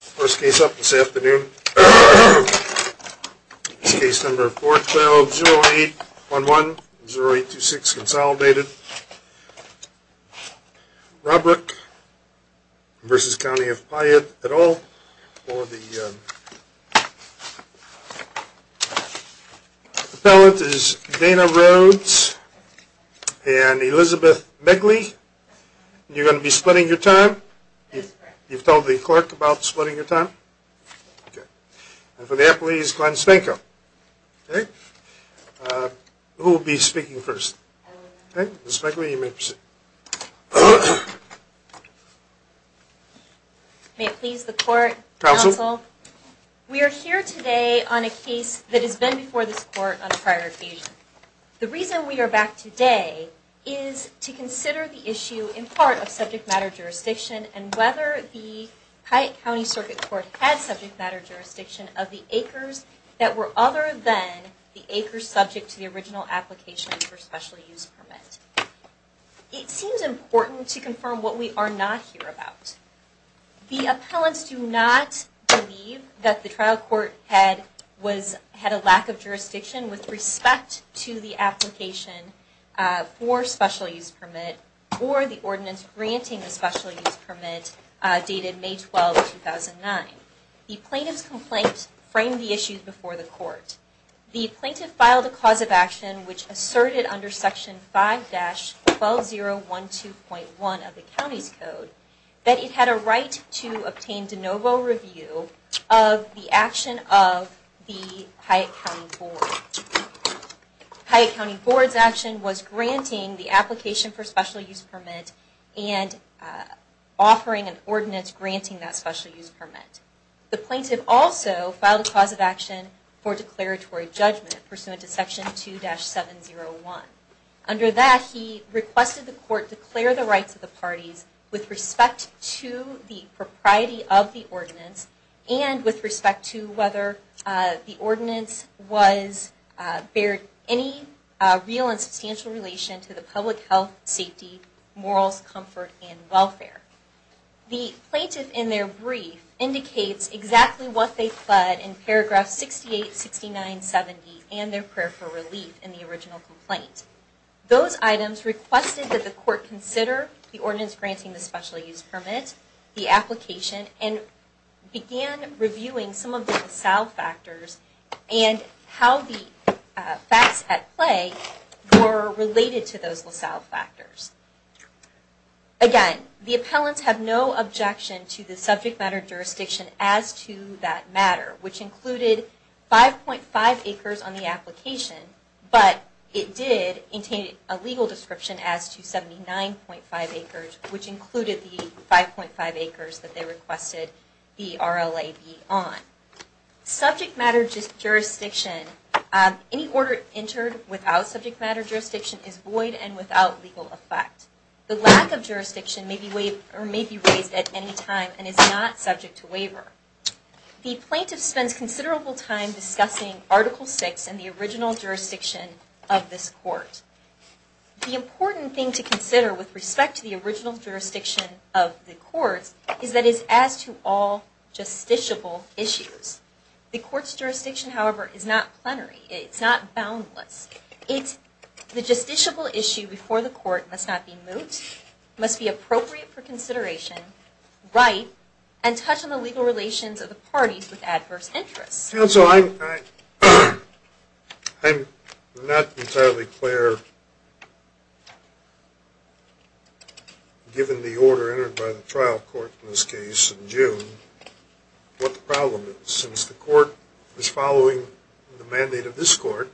First case up this afternoon. Case number 412-0811-0826 Consolidated, Robrock v. County of Piatt et al. For the appellate is Dana Rhodes and Elizabeth Megley. You're going to be splitting your time. You've told the court about splitting your time? And for the appellate is Glenn Spanko. Who will be speaking first? Ms. Megley you may proceed. May it please the court, counsel. We are here today on a case that has been before this court on a prior occasion. The reason we are back today is to consider the issue in part of subject matter jurisdiction and whether the Piatt County Circuit Court had subject matter jurisdiction of the acres that were other than the acres subject to the original application for special use permit. It seems important to confirm what we are not here about. The appellants do not believe that the trial court had a lack of jurisdiction with respect to the application for special use permit or the ordinance granting the special use permit dated May 12, 2009. The plaintiff's complaint framed the issue before the court. The plaintiff filed a cause of action which asserted under section 5-12012.1 of the county's code that it had a right to obtain de novo review of the action of the Piatt County Board. The Piatt County Board's action was granting the application for special use permit and offering an ordinance granting that special use permit. The plaintiff also filed a cause of action for declaratory judgment pursuant to section 2-701. Under that he requested the court declare the rights of the parties with respect to the propriety of the ordinance and with respect to whether the ordinance was, bared any real and substantial relation to the public health, safety, morals, comfort, and welfare. The plaintiff in their brief indicates exactly what they pled in paragraph 68-69-70 and their prayer for relief in the original complaint. Those items requested that the court consider the ordinance granting the special use permit, the application, and began reviewing some of the LaSalle factors and how the facts at play were related to those LaSalle factors. Again, the appellants have no objection to the subject matter jurisdiction as to that matter, which included 5.5 acres on the application, but it did contain a legal description as to 79.5 acres, which included the 5.5 acres that they requested the RLA be on. Subject matter jurisdiction, any order entered without subject matter jurisdiction is void and without legal effect. The lack of jurisdiction may be raised at any time and is not subject to waiver. The plaintiff spends considerable time discussing Article VI and the original jurisdiction of this court. The important thing to consider with respect to the original jurisdiction of the court is that it is as to all justiciable issues. The court's jurisdiction, however, is not plenary. It's not boundless. The justiciable issue before the court must not be moot, must be appropriate for consideration, right, and touch on the legal relations of the parties with adverse interests. Counsel, I'm not entirely clear, given the order entered by the trial court in this case in June, what the problem is, since the court is following the mandate of this court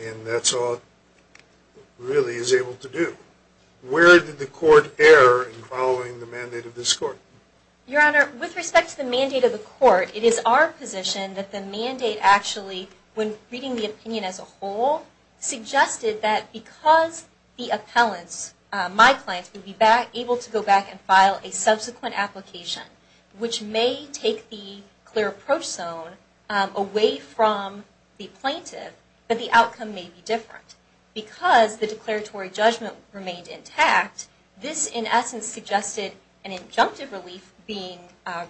and that's all it really is able to do. Where did the court err in following the mandate of this court? Your Honor, with respect to the mandate of the court, it is our position that the mandate actually, when reading the opinion as a whole, suggested that because the appellants, my clients, would be able to go back and file a subsequent application, which may take the clear approach zone away from the plaintiff, but the outcome may be different. Because the declaratory judgment remained intact, this in essence suggested an injunctive relief being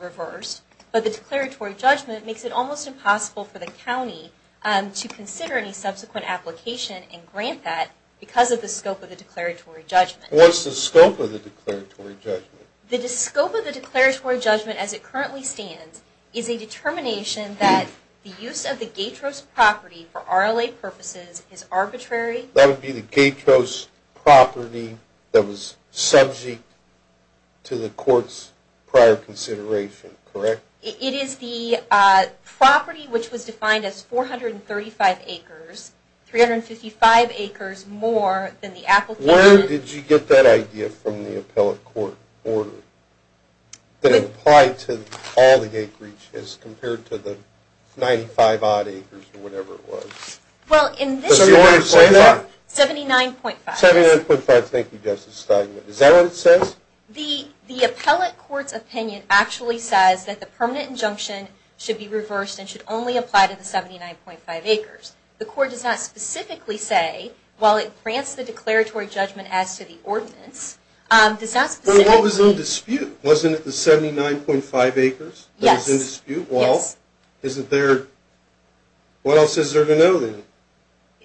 reversed, but the declaratory judgment makes it almost impossible for the county to consider any subsequent application and grant that because of the scope of the declaratory judgment. What's the scope of the declaratory judgment? The scope of the declaratory judgment as it currently stands is a determination that the use of the Gatros property for RLA purposes is arbitrary. That would be the Gatros property that was subject to the court's prior consideration, correct? It is the property which was defined as 435 acres, 355 acres more than the application. Where did you get that idea from the appellate court order that applied to all the acreage as compared to the 95-odd acres or whatever it was? Well, in this order, 79.5. 79.5, thank you, Justice Stein. Is that what it says? The appellate court's opinion actually says that the permanent injunction should be reversed and should only apply to the 79.5 acres. The court does not specifically say, while it grants the declaratory judgment as to the ordinance, does not specifically... But what was in dispute? Wasn't it the 79.5 acres that was in dispute? Yes. Well, isn't there... what else is there to know then?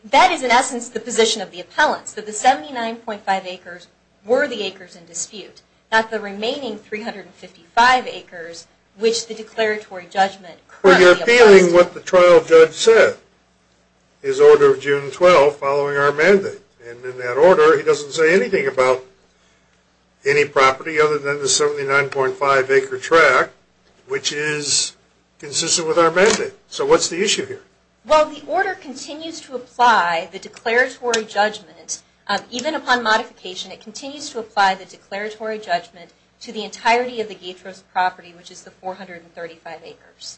That is, in essence, the position of the appellants, that the 79.5 acres were the acres in dispute, not the remaining 355 acres which the declaratory judgment currently applies to. That's what the trial judge said, his order of June 12, following our mandate. And in that order, he doesn't say anything about any property other than the 79.5 acre tract, which is consistent with our mandate. So what's the issue here? Well, the order continues to apply the declaratory judgment. Even upon modification, it continues to apply the declaratory judgment to the entirety of the Gaetro's property, which is the 435 acres.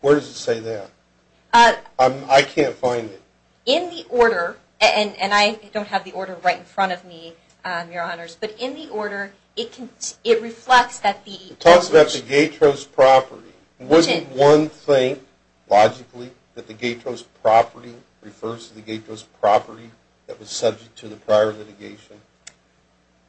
Where does it say that? I can't find it. In the order, and I don't have the order right in front of me, Your Honors, but in the order, it reflects that the... It talks about the Gaetro's property. Wouldn't one think, logically, that the Gaetro's property refers to the Gaetro's property that was subject to the prior litigation?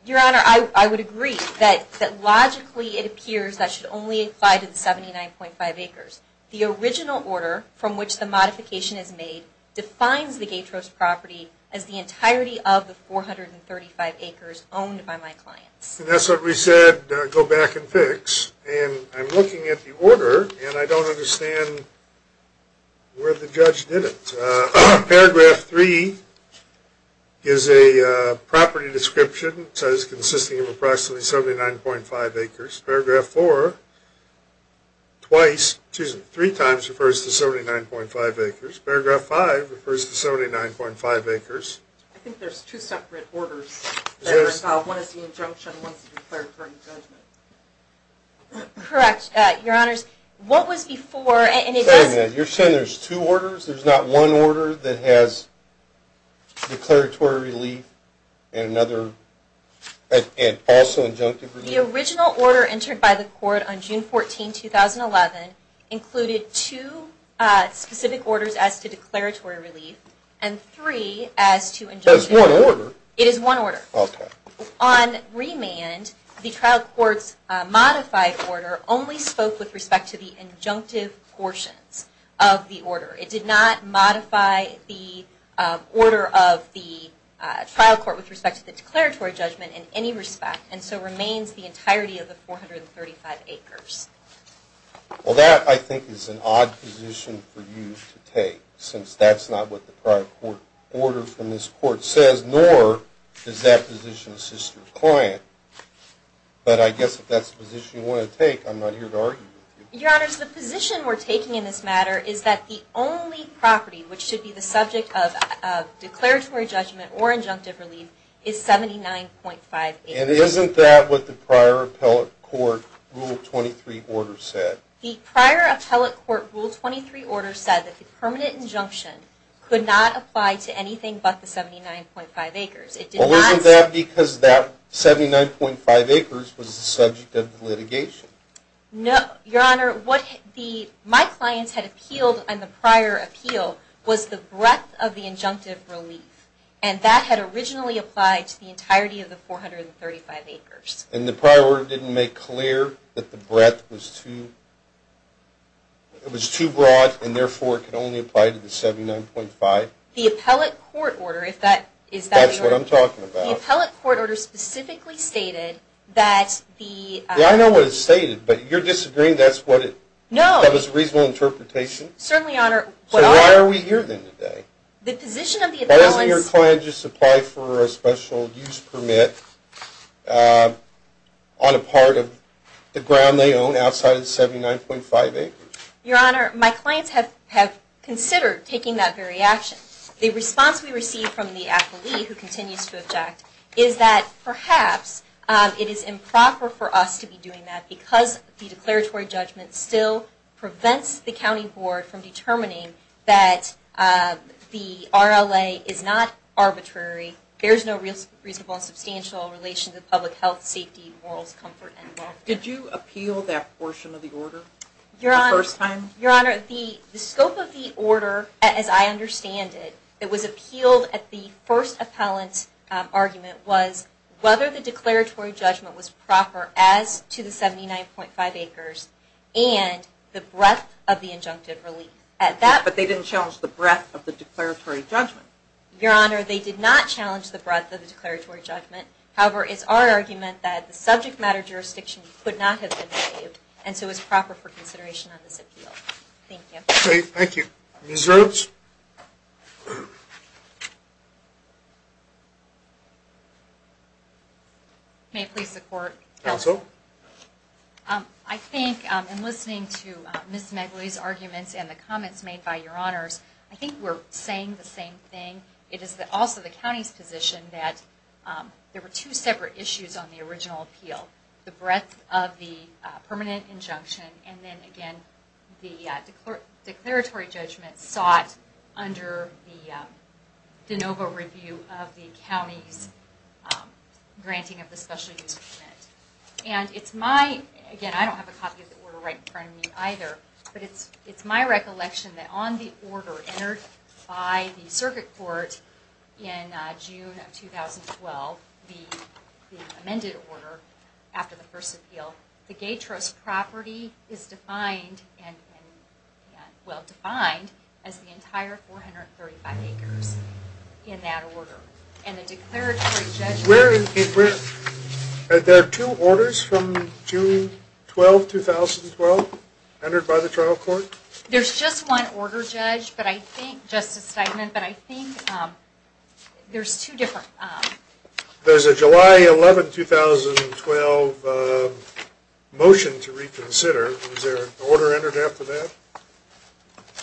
Your Honor, I would agree that logically it appears that should only apply to the 79.5 acres. The original order from which the modification is made defines the Gaetro's property as the entirety of the 435 acres owned by my clients. And that's what we said, go back and fix. And I'm looking at the order, and I don't understand where the judge did it. Paragraph 3 is a property description. It says consisting of approximately 79.5 acres. Paragraph 4, twice, excuse me, three times, refers to 79.5 acres. Paragraph 5 refers to 79.5 acres. I think there's two separate orders that are involved. One is the injunction, and one is the declaratory judgment. Correct, Your Honors. Wait a minute, you're saying there's two orders? There's not one order that has declaratory relief and also injunctive relief? The original order entered by the court on June 14, 2011, included two specific orders as to declaratory relief and three as to injunctive relief. That's one order? It is one order. Okay. On remand, the trial court's modified order only spoke with respect to the injunctive portions of the order. It did not modify the order of the trial court with respect to the declaratory judgment in any respect, and so remains the entirety of the 435 acres. Well, that, I think, is an odd position for you to take, since that's not what the prior court order from this court says, nor does that position assist your client. But I guess if that's the position you want to take, I'm not here to argue with you. Your Honors, the position we're taking in this matter is that the only property which should be the subject of declaratory judgment or injunctive relief is 79.5 acres. And isn't that what the prior appellate court Rule 23 order said? The prior appellate court Rule 23 order said that the permanent injunction could not apply to anything but the 79.5 acres. Well, wasn't that because that 79.5 acres was the subject of the litigation? No, Your Honor. What my clients had appealed on the prior appeal was the breadth of the injunctive relief, and that had originally applied to the entirety of the 435 acres. And the prior order didn't make clear that the breadth was too broad, and therefore could only apply to the 79.5? The appellate court order, if that is what you're referring to. That's what I'm talking about. The appellate court order specifically stated that the... Yeah, I know what it stated, but you're disagreeing. That's what it... No. That was a reasonable interpretation? Certainly, Your Honor. So why are we here then today? The position of the appellants... on a part of the ground they own outside of the 79.5 acres? Your Honor, my clients have considered taking that very action. The response we received from the appellee, who continues to object, is that perhaps it is improper for us to be doing that because the declaratory judgment still prevents the county board from determining that the RLA is not arbitrary. There is no reasonable and substantial relation to public health, safety, morals, comfort, and welfare. Did you appeal that portion of the order the first time? Your Honor, the scope of the order, as I understand it, that was appealed at the first appellant's argument, was whether the declaratory judgment was proper as to the 79.5 acres and the breadth of the injunctive relief. But they didn't challenge the breadth of the declaratory judgment. Your Honor, they did not challenge the breadth of the declaratory judgment. However, it's our argument that the subject matter jurisdiction could not have been made, and so it's proper for consideration on this appeal. Thank you. Thank you. Ms. Rhodes? May it please the Court? Counsel? I think, in listening to Ms. Megley's arguments and the comments made by Your Honors, I think we're saying the same thing. It is also the county's position that there were two separate issues on the original appeal. The breadth of the permanent injunction and then, again, the declaratory judgment sought under the de novo review of the county's granting of the special use permit. And it's my, again, I don't have a copy of the order right in front of me either, but it's my recollection that on the order entered by the circuit court in June of 2012, the amended order after the first appeal, the Gay Trust property is defined, well defined, as the entire 435 acres in that order. And the declaratory judgment... Are there two orders from June 12, 2012 entered by the trial court? There's just one order, Judge, but I think, Justice Steinman, but I think there's two different... There's a July 11, 2012 motion to reconsider. Was there an order entered after that?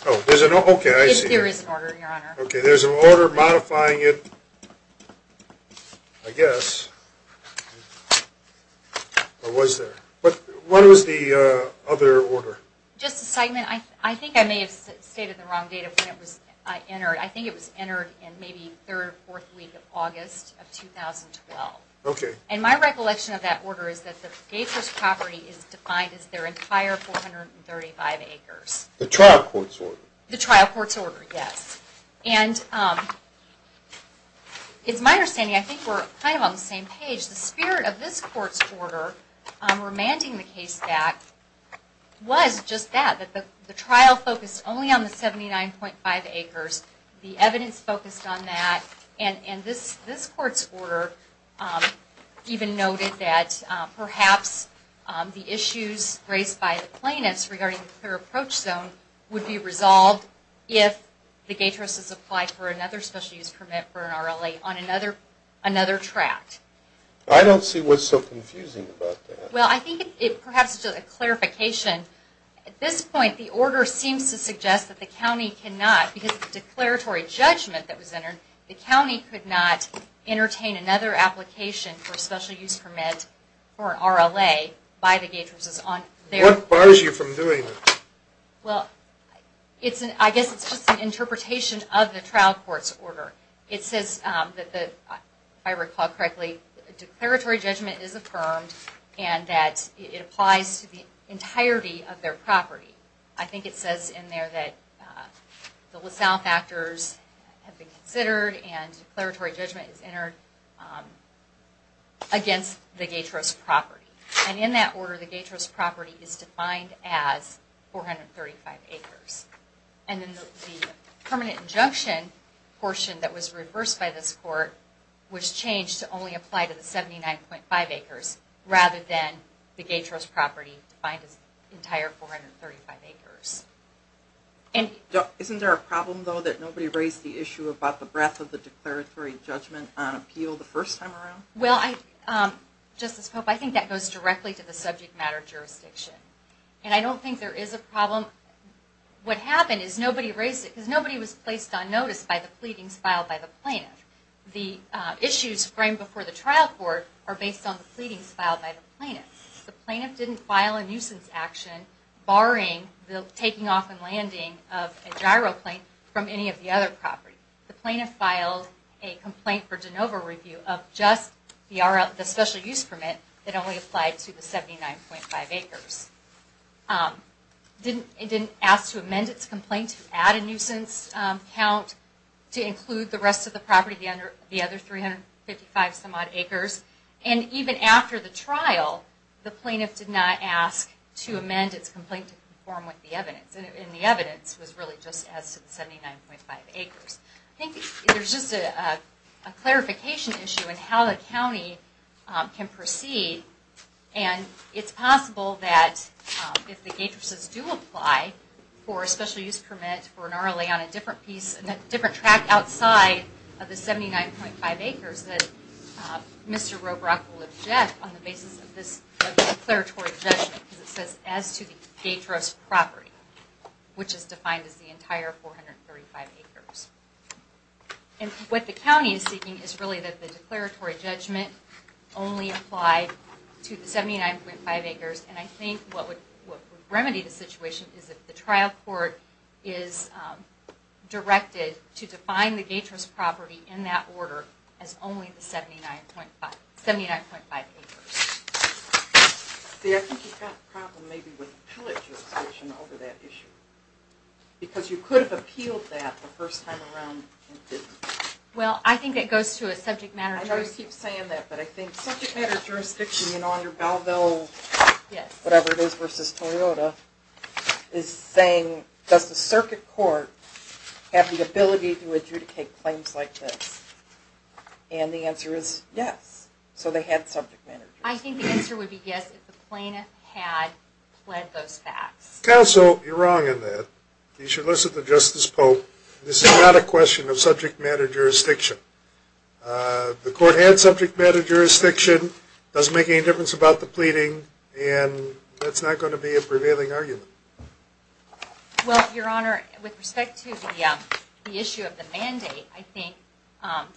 Oh, there's an order. Okay, I see. There is an order, Your Honor. Okay, there's an order modifying it, I guess. Or was there? What was the other order? Justice Steinman, I think I may have stated the wrong date of when it was entered. I think it was entered in maybe the third or fourth week of August of 2012. Okay. And my recollection of that order is that the Gay Trust property is defined as their entire 435 acres. The trial court's order? The trial court's order, yes. And it's my understanding, I think we're kind of on the same page, the spirit of this court's order remanding the case back was just that, that the trial focused only on the 79.5 acres, the evidence focused on that, and this court's order even noted that perhaps the issues raised by the plaintiffs regarding the Clear Approach Zone would be resolved if the Gay Trusts applied for another special use permit for an RLA on another tract. I don't see what's so confusing about that. Well, I think it perhaps is just a clarification. At this point, the order seems to suggest that the county cannot, because of the declaratory judgment that was entered, the county could not entertain another application for a special use permit for an RLA by the Gay Trusts. What bars you from doing that? Well, I guess it's just an interpretation of the trial court's order. It says that, if I recall correctly, declaratory judgment is affirmed and that it applies to the entirety of their property. I think it says in there that the LaSalle factors have been considered and declaratory judgment is entered against the Gay Trust property. And in that order, the Gay Trust property is defined as 435 acres. And then the permanent injunction portion that was reversed by this court was changed to only apply to the 79.5 acres rather than the Gay Trust property defined as the entire 435 acres. Isn't there a problem, though, that nobody raised the issue about the breadth of the declaratory judgment on appeal the first time around? Well, Justice Pope, I think that goes directly to the subject matter jurisdiction. And I don't think there is a problem. What happened is nobody raised it because nobody was placed on notice by the pleadings filed by the plaintiff. The issues framed before the trial court are based on the pleadings filed by the plaintiff. The plaintiff didn't file a nuisance action barring the taking off and landing of a gyroplane from any of the other properties. The plaintiff filed a complaint for de novo review of just the special use permit that only applied to the 79.5 acres. It didn't ask to amend its complaint to add a nuisance count to include the rest of the property, the other 355 some odd acres. And even after the trial, the plaintiff did not ask to amend its complaint to conform with the evidence. And the evidence was really just as to the 79.5 acres. I think there's just a clarification issue in how the county can proceed. And it's possible that if the gatresses do apply for a special use permit for an RLA on a different piece, a different tract outside of the 79.5 acres, that Mr. Robrock will object on the basis of this declaratory judgment because it says as to the gatress property, which is defined as the entire 435 acres. And what the county is seeking is really that the declaratory judgment only apply to the 79.5 acres. And I think what would remedy the situation is if the trial court is directed to define the gatress property in that order as only the 79.5 acres. See, I think you've got a problem maybe with the PILOT jurisdiction over that issue. Because you could have appealed that the first time around and didn't. Well, I think it goes to a subject matter jurisdiction. I always keep saying that, but I think subject matter jurisdiction, you know, on your Belleville, whatever it is, versus Toyota, is saying does the circuit court have the ability to adjudicate claims like this? And the answer is yes. So they had subject matter jurisdiction. I think the answer would be yes if the plaintiff had pled those facts. Counsel, you're wrong on that. You should listen to Justice Pope. This is not a question of subject matter jurisdiction. The court had subject matter jurisdiction. It doesn't make any difference about the pleading. And that's not going to be a prevailing argument. Well, Your Honor, with respect to the issue of the mandate, I think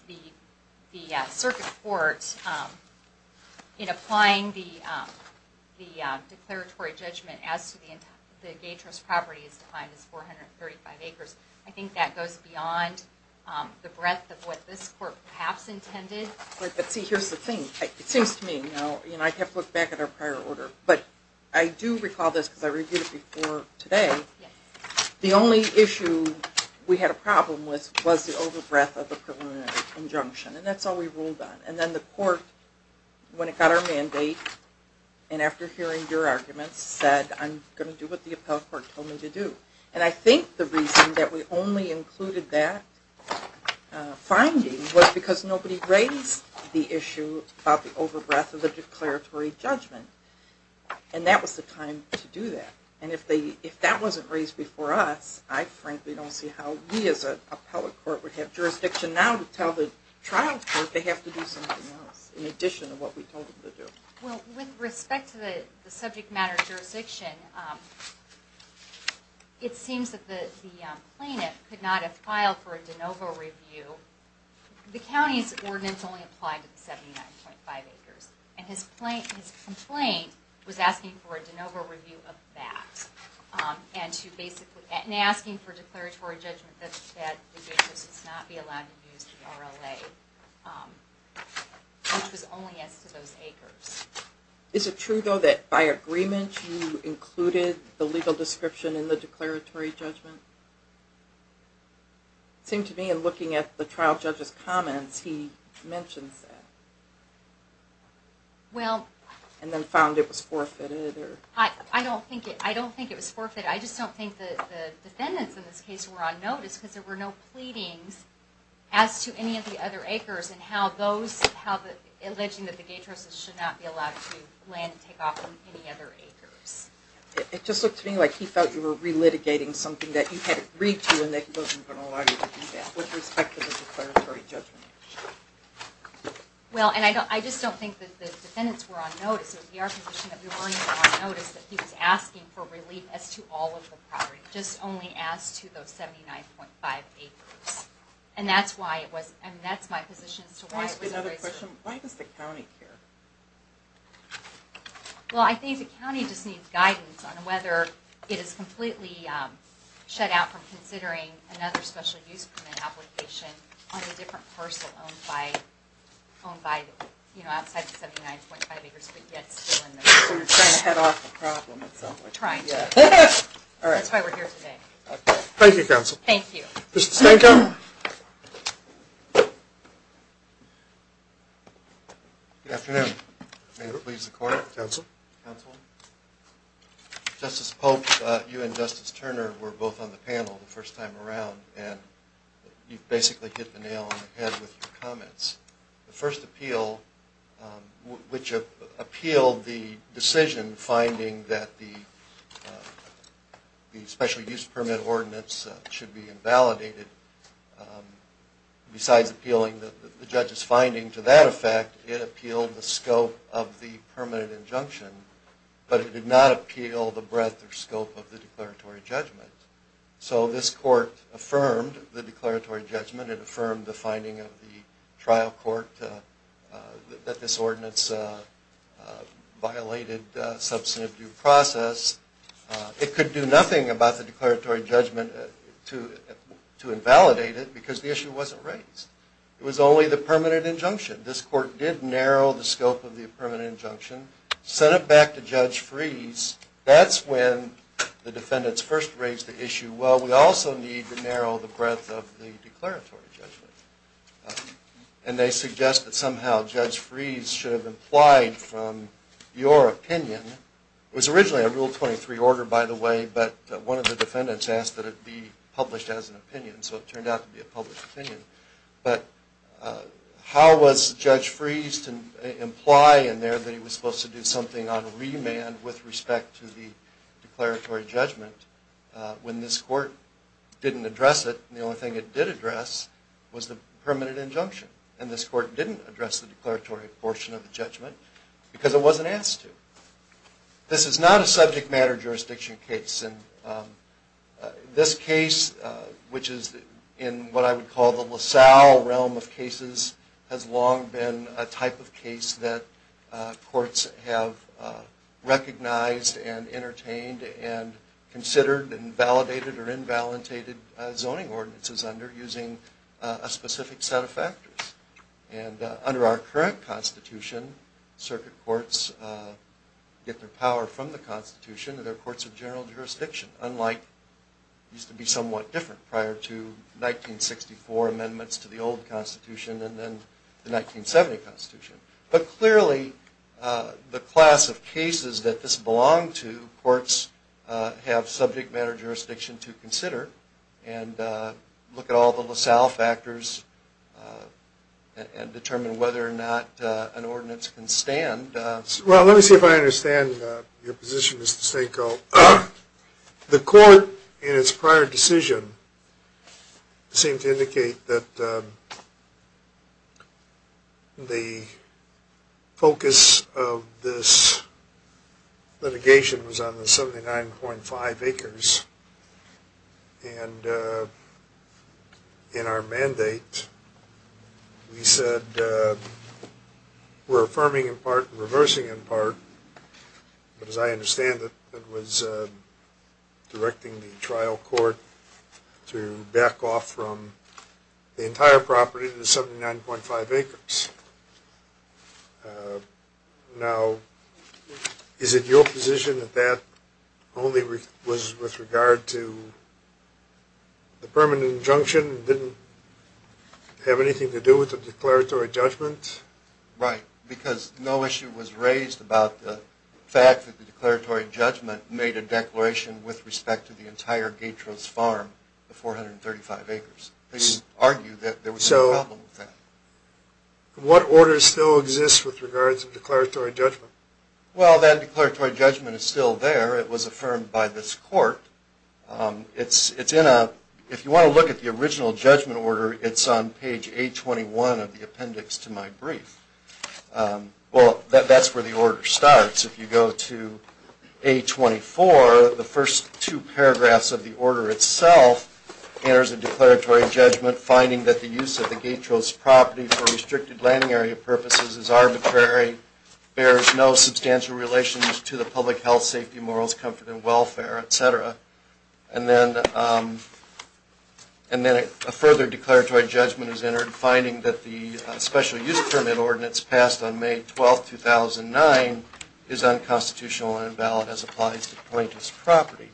the circuit court in applying the declaratory judgment as to the gatress property is defined as 435 acres. I think that goes beyond the breadth of what this court perhaps intended. But see, here's the thing. It seems to me, you know, I have to look back at our prior order. But I do recall this because I reviewed it before today. The only issue we had a problem with was the over breadth of the preliminary injunction. And that's all we ruled on. And then the court, when it got our mandate, and after hearing your arguments said I'm going to do what the appellate court told me to do. And I think the reason that we only included that finding was because nobody raised the issue about the over breadth of the declaratory judgment. And that was the time to do that. And if that wasn't raised before us, I frankly don't see how we as an appellate court would have jurisdiction now to tell the trial court they have to do something else in addition to what we told them to do. Well, with respect to the subject matter jurisdiction, it seems that the plaintiff could not have filed for a de novo review. The county's ordinance only applied to the 79.5 acres. And his complaint was asking for a de novo review of that. And asking for a declaratory judgment that said the gators must not be allowed to use the RLA, which was only as to those acres. Is it true, though, that by agreement you included the legal description in the declaratory judgment? It seemed to me in looking at the trial judge's comments, he mentions that. And then found it was forfeited. I don't think it was forfeited. I just don't think the defendants in this case were on notice because there were no pleadings as to any of the other acres and alleging that the gators should not be allowed to land and take off from any other acres. It just looked to me like he thought you were relitigating something that you had agreed to and that he wasn't going to allow you to do that with respect to the declaratory judgment. Well, and I just don't think that the defendants were on notice. It would be our position that we weren't on notice that he was asking for relief as to all of the property, just only as to those 79.5 acres. And that's my position as to why it was erased. Can I ask you another question? Why does the county care? Well, I think the county just needs guidance on whether it is completely shut out from considering another special use permit application on a different parcel owned by, you know, outside the 79.5 acres, but yet still in there. So you're trying to head off the problem. Trying to. That's why we're here today. Thank you, counsel. Thank you. Mr. Stanko? Good afternoon. May it please the court. Counsel. Counsel. Justice Pope, you and Justice Turner were both on the panel the first time around, and you basically hit the nail on the head with your comments. The first appeal, which appealed the decision finding that the special use permit ordinance should be invalidated, besides appealing the judge's finding to that effect, it appealed the scope of the permanent injunction, but it did not appeal the breadth or scope of the declaratory judgment. So this court affirmed the declaratory judgment. It affirmed the finding of the trial court that this ordinance violated substantive due process. It could do nothing about the declaratory judgment to invalidate it because the issue wasn't raised. It was only the permanent injunction. This court did narrow the scope of the permanent injunction, sent it back to Judge Freese. That's when the defendants first raised the issue, well, we also need to narrow the breadth of the declaratory judgment. And they suggest that somehow Judge Freese should have implied from your opinion, it was originally a Rule 23 order, by the way, but one of the defendants asked that it be published as an opinion, so it turned out to be a published opinion, but how was Judge Freese to imply in there that he was supposed to do something on remand with respect to the declaratory judgment when this court didn't address it, and the only thing it did address was the permanent injunction, and this court didn't address the declaratory portion of the judgment because it wasn't asked to. This is not a subject matter jurisdiction case, and this case, which is in what I would call the LaSalle realm of cases, has long been a type of case that courts have recognized and entertained and considered and validated or invalidated zoning ordinances under using a specific set of factors. And under our current Constitution, circuit courts get their power from the Constitution, and there are courts of general jurisdiction, unlike it used to be somewhat different prior to 1964 amendments to the old Constitution and then the 1970 Constitution. But clearly the class of cases that this belonged to, courts have subject matter jurisdiction to consider and look at all the LaSalle factors and determine whether or not an ordinance can stand. Well, let me see if I understand your position, Mr. Stanko. The court in its prior decision seemed to indicate that the focus of this litigation was on the 79.5 acres, and in our mandate we said we're affirming in part and reversing in part, but as I understand it, it was directing the trial court to back off from the entire property to the 79.5 acres. Now, is it your position that that only was with regard to the permanent injunction and didn't have anything to do with the declaratory judgment? Right, because no issue was raised about the fact that the declaratory judgment made a declaration with respect to the entire Gatros farm, the 435 acres. They didn't argue that there was any problem with that. So, what order still exists with regards to declaratory judgment? Well, that declaratory judgment is still there. It was affirmed by this court. It's in a, if you want to look at the original judgment order, it's on page 821 of the appendix to my brief. Well, that's where the order starts. If you go to 824, the first two paragraphs of the order itself enters a declaratory judgment finding that the use of the Gatros property for restricted landing area purposes is arbitrary, bears no substantial relations to the public health, safety, morals, comfort, and welfare, etc. And then a further declaratory judgment is entered finding that the special use permit ordinance passed on May 12, 2009 is unconstitutional and invalid as applies to plaintiff's property.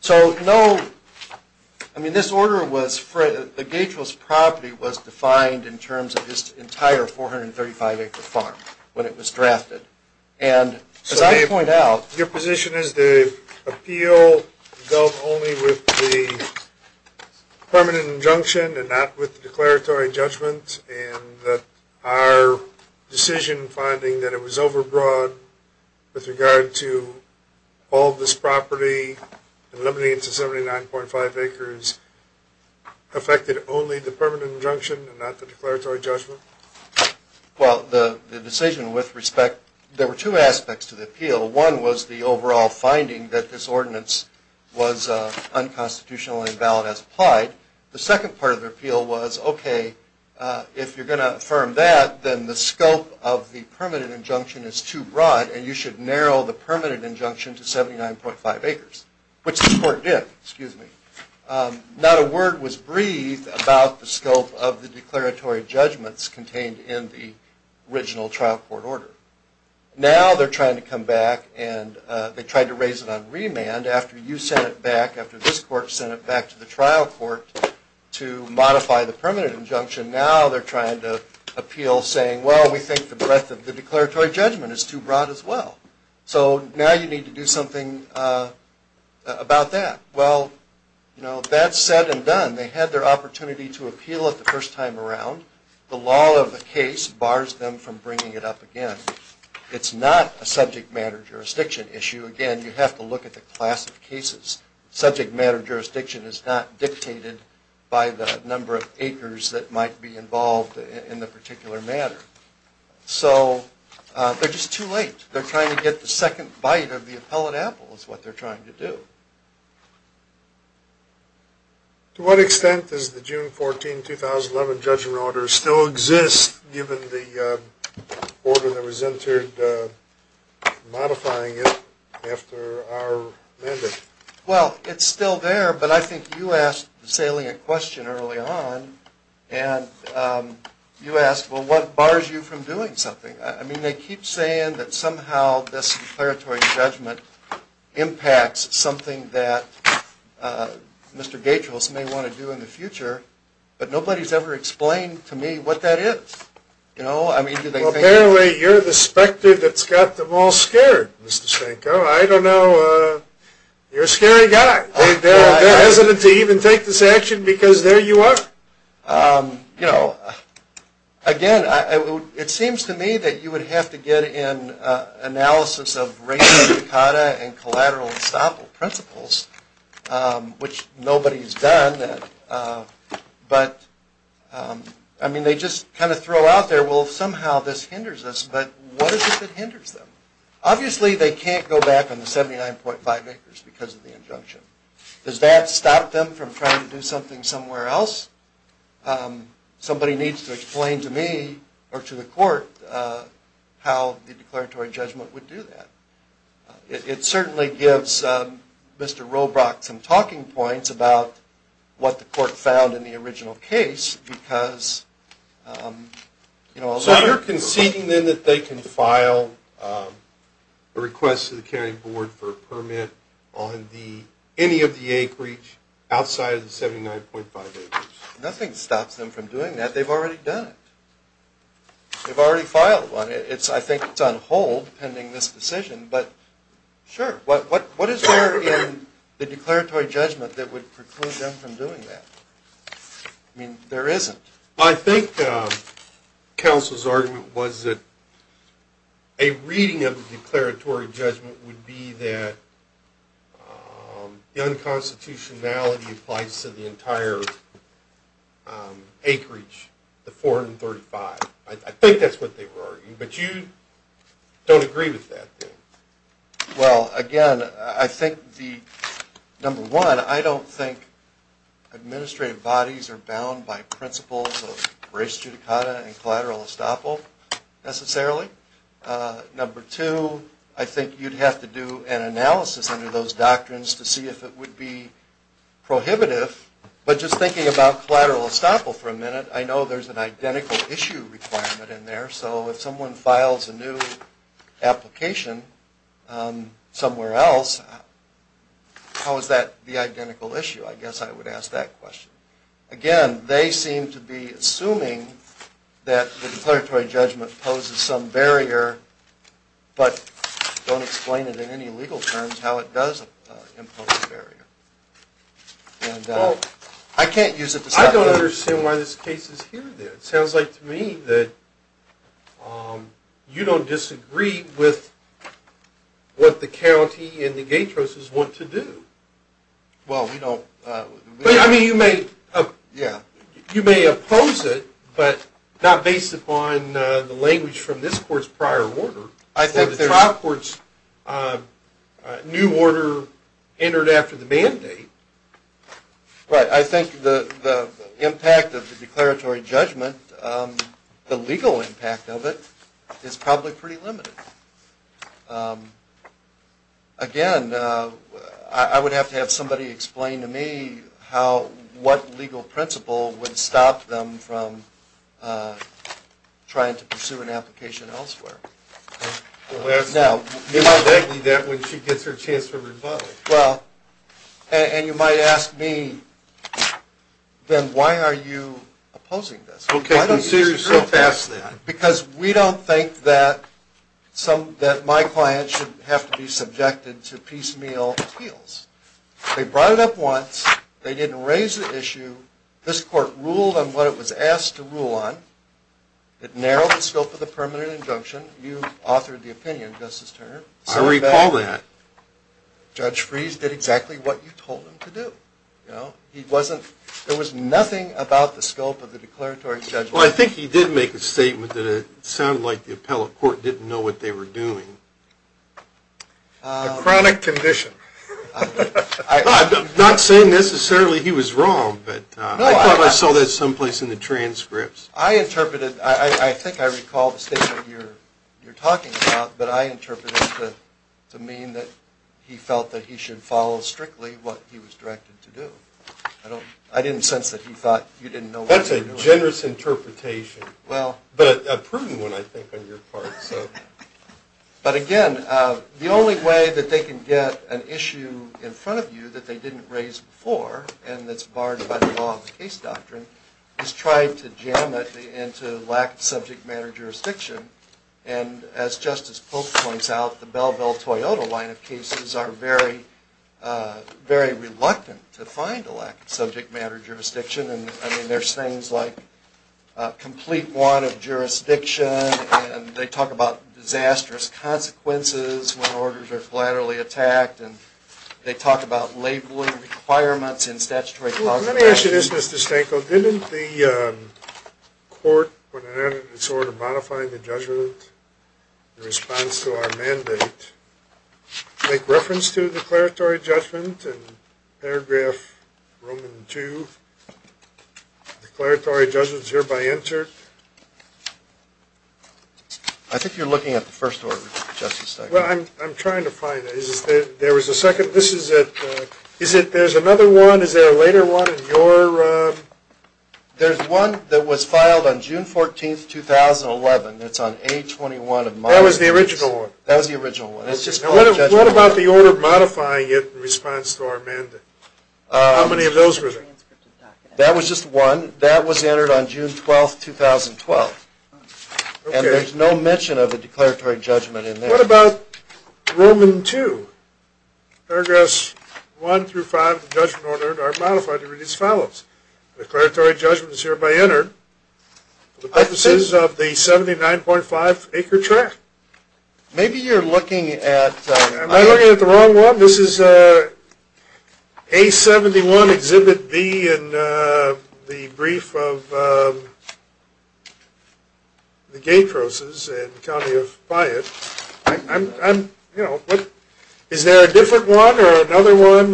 So, no, I mean, this order was, the Gatros property was defined in terms of this entire 435 acre farm when it was drafted. And, as I point out... So, Dave, your position is the appeal dealt only with the permanent injunction and not with the declaratory judgment, and that our decision finding that it was overbroad with regard to all this property and limiting it to 79.5 acres affected only the permanent injunction and not the declaratory judgment? Well, the decision with respect... There were two aspects to the appeal. One was the overall finding that this ordinance was unconstitutional and invalid as applied. The second part of the appeal was, okay, if you're going to affirm that, then the scope of the permanent injunction is too broad and you should narrow the permanent injunction to 79.5 acres, which the court did. Not a word was breathed about the scope of the declaratory judgments contained in the original trial court order. Now they're trying to come back and they tried to raise it on remand after you sent it back, after this court sent it back to the trial court to modify the permanent injunction. Now they're trying to appeal saying, well, we think the breadth of the declaratory judgment is too broad as well. So now you need to do something about that. Well, that's said and done. They had their opportunity to appeal it the first time around. The law of the case bars them from bringing it up again. It's not a subject matter jurisdiction issue. Again, you have to look at the class of cases. Subject matter jurisdiction is not dictated by the number of acres that might be involved in the particular matter. So they're just too late. They're trying to get the second bite of the appellate apple is what they're trying to do. To what extent does the June 14, 2011 judgment order still exist given the order that was entered modifying it after our mandate? Well, it's still there, but I think you asked this salient question early on, and you asked, well, what bars you from doing something? I mean, they keep saying that somehow this declaratory judgment impacts something that Mr. Gatros may want to do in the future, but nobody's ever explained to me what that is. Well, bear with me. You're the specter that's got them all scared, Mr. Stanko. I don't know. You're a scary guy. They're hesitant to even take this action because there you are. You know, again, it seems to me that you would have to get an analysis of ratio, decada, and collateral estoppel principles, which nobody's done. I mean, they just kind of throw out there, well, somehow this hinders us, but what is it that hinders them? Obviously, they can't go back on the 79.5 acres because of the injunction. Does that stop them from trying to do something somewhere else? Somebody needs to explain to me or to the court how the declaratory judgment would do that. It certainly gives Mr. Robrock some talking points about what the court found in the original case because, you know, So you're conceding then that they can file a request to the county board for a permit on any of the acreage outside of the 79.5 acres. Nothing stops them from doing that. They've already done it. They've already filed one. I think it's on hold pending this decision, but sure. What is there in the declaratory judgment that would preclude them from doing that? I mean, there isn't. I think counsel's argument was that a reading of the declaratory judgment would be that the unconstitutionality applies to the entire acreage, the 435. I think that's what they were arguing, but you don't agree with that. Well, again, I think the number one, I don't think administrative bodies are bound by principles of res judicata and collateral estoppel necessarily. Number two, I think you'd have to do an analysis under those doctrines to see if it would be prohibitive. But just thinking about collateral estoppel for a minute, I know there's an identical issue requirement in there. So if someone files a new application somewhere else, how is that the identical issue? I guess I would ask that question. Again, they seem to be assuming that the declaratory judgment imposes some barrier, but don't explain it in any legal terms how it does impose a barrier. I don't understand why this case is here, though. It sounds like to me that you don't disagree with what the county and the Gatroses want to do. Well, we don't... I mean, you may oppose it, but not based upon the language from this court's prior order. The trial court's new order entered after the mandate. Right. I think the impact of the declaratory judgment, the legal impact of it, is probably pretty limited. Again, I would have to have somebody explain to me what legal principle would stop them from trying to pursue an application elsewhere. You might argue that when she gets her chance for rebuttal. Well, and you might ask me, Ben, why are you opposing this? Okay, consider yourself asked then. Because we don't think that my client should have to be subjected to piecemeal appeals. They brought it up once. They didn't raise the issue. This court ruled on what it was asked to rule on. It narrowed the scope of the permanent injunction. You authored the opinion, Justice Turner. I recall that. Judge Freese did exactly what you told him to do. There was nothing about the scope of the declaratory judgment. Well, I think he did make a statement that it sounded like the appellate court didn't know what they were doing. A chronic condition. I'm not saying necessarily he was wrong, but I thought I saw that someplace in the transcripts. I interpreted, I think I recall the statement you're talking about, but I interpreted it to mean that he felt that he should follow strictly what he was directed to do. I didn't sense that he thought you didn't know what you were doing. That's a generous interpretation. But a proven one, I think, on your part. But again, the only way that they can get an issue in front of you that they didn't raise before, and that's barred by the law of the case doctrine, is try to jam it into lack-of-subject-matter jurisdiction. And as Justice Polk points out, the Bellville-Toyota line of cases are very reluctant to find a lack-of-subject-matter jurisdiction. I mean, there's things like complete want of jurisdiction, and they talk about disastrous consequences when orders are collaterally attacked, and they talk about labeling requirements in statutory... Let me ask you this, Mr. Stanko. Didn't the court, when it added its order modifying the judgment in response to our mandate, make reference to declaratory judgment in paragraph Roman 2? Declaratory judgment is hereby entered. I think you're looking at the first order, Justice Stanko. Well, I'm trying to find it. There was a second... There's another one? Is there a later one in your... There's one that was filed on June 14, 2011. It's on A21 of modifiers. That was the original one? That was the original one. What about the order modifying it in response to our mandate? How many of those were there? That was just one. That was entered on June 12, 2012. And there's no mention of the declaratory judgment in there. What about Roman 2? Paragraphs 1 through 5 of the judgment order are modified to read as follows. Declaratory judgment is hereby entered for the purposes of the 79.5-acre tract. Maybe you're looking at... Am I looking at the wrong one? This is A71, Exhibit B in the brief of the Gay Crosses in the county of Byatt. Is there a different one or another one?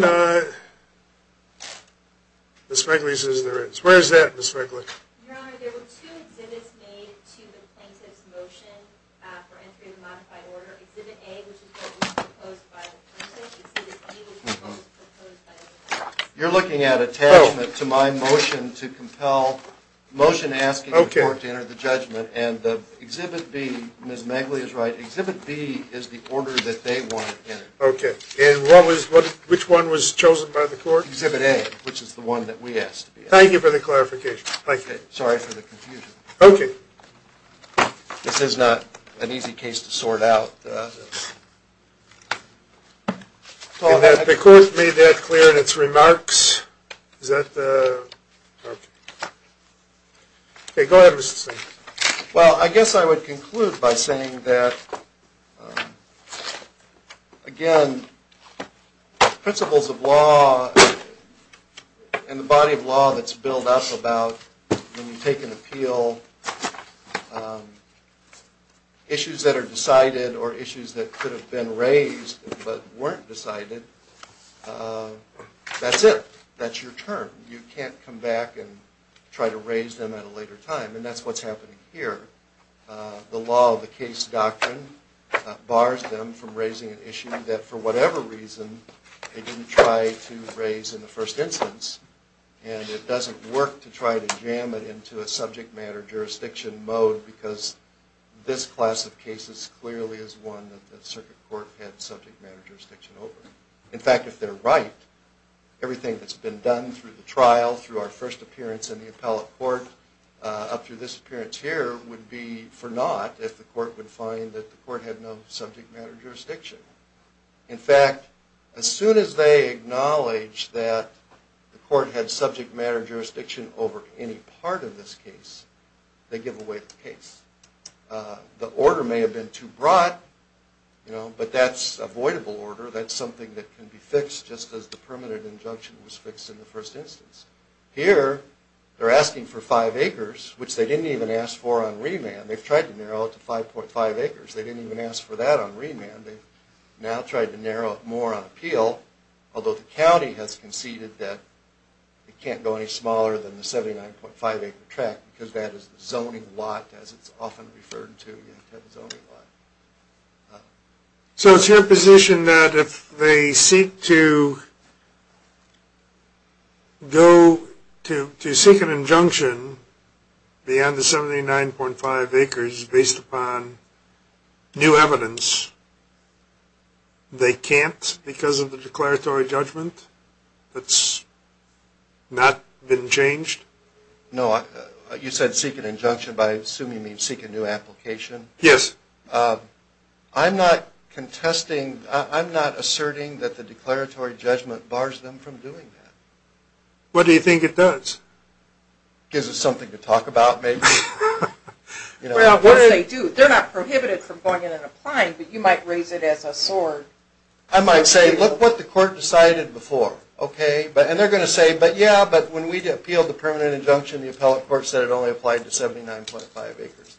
Ms. Feigley says there is. Where is that, Ms. Feigley? Your Honor, there were two exhibits made to the plaintiff's motion for entry of the modified order. Exhibit A, which is what was proposed by the plaintiff. Exhibit B was what was proposed by the plaintiff. You're looking at attachment to my motion to compel motion asking the court to enter the judgment. And Exhibit B, Ms. Feigley is right, Exhibit B is the order that they wanted entered. And which one was chosen by the court? Exhibit A, which is the one that we asked to be entered. Thank you for the clarification. Thank you. Sorry for the confusion. Okay. This is not an easy case to sort out. The court made that clear in its remarks. Is that the... Okay, go ahead, Mr. Steyer. Well, I guess I would conclude by saying that, again, principles of law and the body of law that's built up about when you take an appeal, issues that are decided or issues that could have been raised but weren't decided, that's it. That's your term. You can't come back and try to raise them at a later time. And that's what's happening here. The law of the case doctrine bars them from raising an issue that, for whatever reason, they didn't try to raise in the first instance. And it doesn't work to try to jam it into a subject matter jurisdiction mode because this class of cases clearly is one that the circuit court had subject matter jurisdiction over. In fact, if they're right, everything that's been done through the trial, through our first appearance in the appellate court, up through this appearance here, would be for naught if the court would find that the court had no subject matter jurisdiction. In fact, as soon as they acknowledge that the court had subject matter jurisdiction over any part of this case, they give away the case. The order may have been too broad, but that's avoidable order. That's something that can be fixed just as the permanent injunction was fixed in the first instance. Here, they're asking for five acres, which they didn't even ask for on remand. They've tried to narrow it to 5.5 acres. They didn't even ask for that on remand. They've now tried to narrow it more on appeal, although the county has conceded that it can't go any smaller than the 79.5 acre tract because that is the zoning lot, as it's often referred to, the zoning lot. So it's your position that if they seek to go to seek an injunction beyond the 79.5 acres based upon new evidence, they can't because of the declaratory judgment that's not been changed? No. You said seek an injunction, but I assume you mean seek a new application. Yes. I'm not contesting. I'm not asserting that the declaratory judgment bars them from doing that. What do you think it does? Gives us something to talk about, maybe? Well, what if they do? They're not prohibited from going in and applying, but you might raise it as a sword. I might say, look what the court decided before. And they're going to say, but yeah, but when we appealed the permanent injunction, the appellate court said it only applied to 79.5 acres.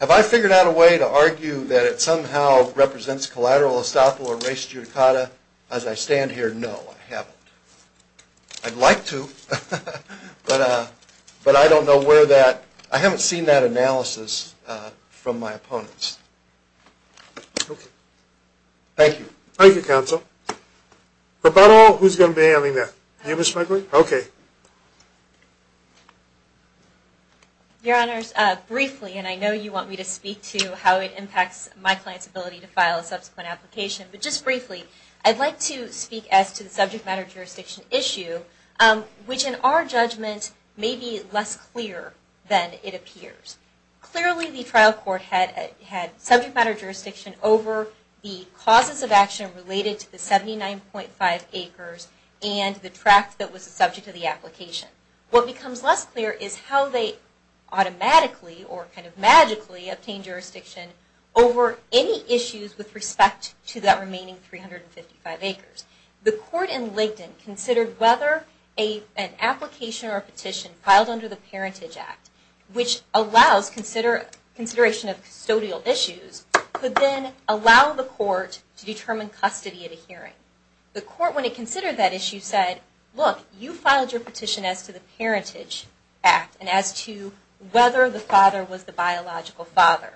Have I figured out a way to argue that it somehow represents collateral estoppel or res judicata as I stand here? No, I haven't. I'd like to, but I don't know where that – I haven't seen that analysis from my opponents. Okay. Thank you. Thank you, counsel. For about all, who's going to be handling that? You, Ms. McGlynn? Okay. Your Honors, briefly, and I know you want me to speak to how it impacts my client's ability to file a subsequent application, but just briefly, I'd like to speak as to the subject matter jurisdiction issue, which in our judgment may be less clear than it appears. Clearly the trial court had subject matter jurisdiction over the causes of action related to the 79.5 acres and the tract that was the subject of the application. What becomes less clear is how they automatically, or kind of magically, obtained jurisdiction over any issues with respect to that remaining 355 acres. The court in Licton considered whether an application or a petition filed under the Parentage Act, which allows consideration of custodial issues, could then allow the court to determine custody at a hearing. The court, when it considered that issue, said, look, you filed your petition as to the Parentage Act and as to whether the child was a biological father.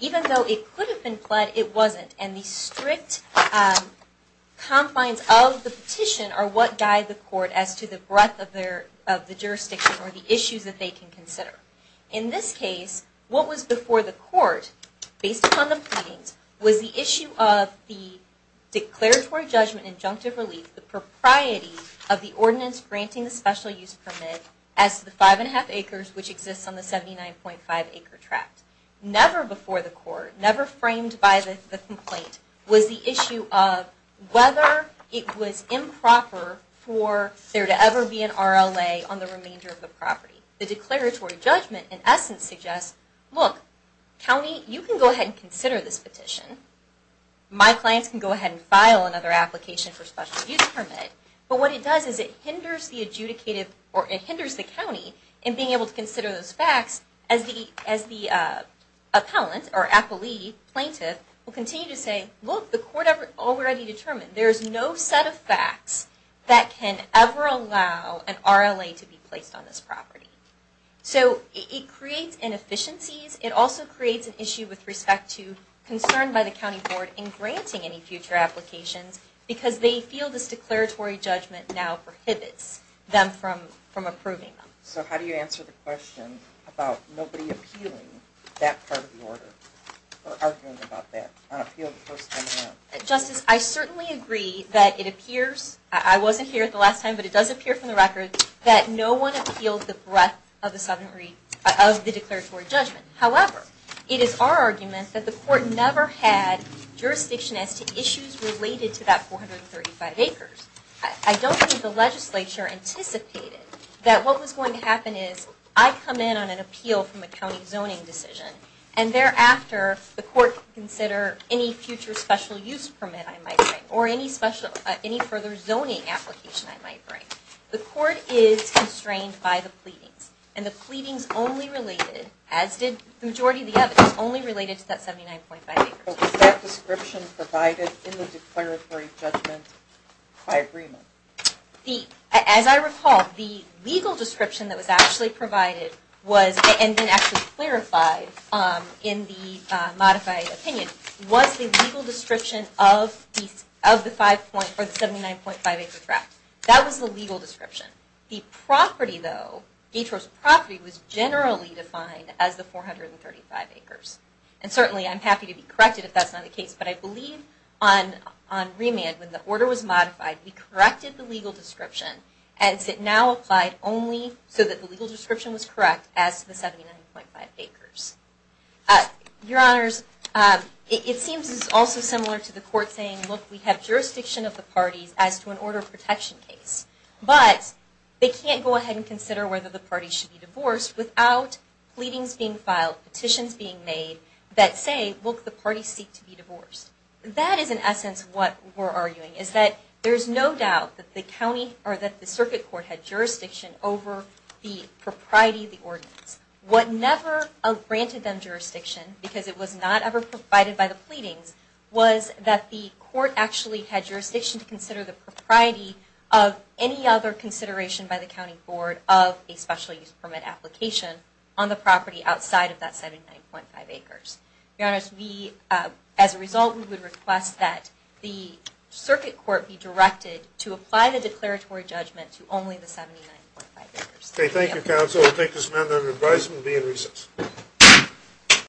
Even though it could have been pled, it wasn't. And the strict confines of the petition are what guide the court as to the breadth of the jurisdiction or the issues that they can consider. In this case, what was before the court, based upon the pleadings, was the issue of the declaratory judgment injunctive relief, the propriety of the ordinance granting the special use permit as to the 79.5 acre tract. Never before the court, never framed by the complaint, was the issue of whether it was improper for there to ever be an RLA on the remainder of the property. The declaratory judgment, in essence, suggests, look, county, you can go ahead and consider this petition. My clients can go ahead and file another application for special use permit. But what it does is it hinders the county in being able to consider those facts as the appellant or appellee, plaintiff, will continue to say, look, the court already determined. There is no set of facts that can ever allow an RLA to be placed on this property. So it creates inefficiencies. It also creates an issue with respect to concern by the county board in granting any future applications because they feel this declaratory judgment now prohibits them from approving them. So how do you answer the question about nobody appealing that part of the order or arguing about that? Justice, I certainly agree that it appears, I wasn't here the last time, but it does appear from the record that no one appealed the breadth of the declaratory judgment. However, it is our argument that the court never had jurisdiction as to issues related to that 435 acres. I don't think the legislature anticipated that what was going to happen is I come in on an appeal from a county zoning decision, and thereafter the court can consider any future special use permit I might bring or any further zoning application I might bring. The court is constrained by the pleadings, and the pleadings only related, as did the majority of the evidence, only related to that 79.5 acres. Was that description provided in the declaratory judgment by agreement? As I recall, the legal description that was actually provided was, and then actually clarified in the modified opinion, was the legal description of the 79.5 acre draft. That was the legal description. The property, though, Gator's property, was generally defined as the 435 acres. And certainly I'm happy to be corrected if that's not the case, but I believe on remand when the order was modified, we corrected the legal description as it now applied only so that the legal description was correct as to the 79.5 acres. Your Honors, it seems also similar to the court saying, look, we have jurisdiction of the parties as to an order of protection case, but they can't go ahead and consider whether the parties should be divorced without pleadings being filed, petitions being made that say, look, the parties seek to be divorced. That is in essence what we're arguing, is that there's no doubt that the circuit court had jurisdiction over the propriety of the ordinance. What never granted them jurisdiction, because it was not ever provided by the pleadings, was that the court actually had jurisdiction to consider the propriety of any other consideration by the county board of a special use permit application on the property outside of that 79.5 acres. Your Honors, we, as a result, we would request that the circuit court be directed to apply the declaratory judgment to only the 79.5 acres. Thank you, Counsel. I think this amendment of advisement will be in recess.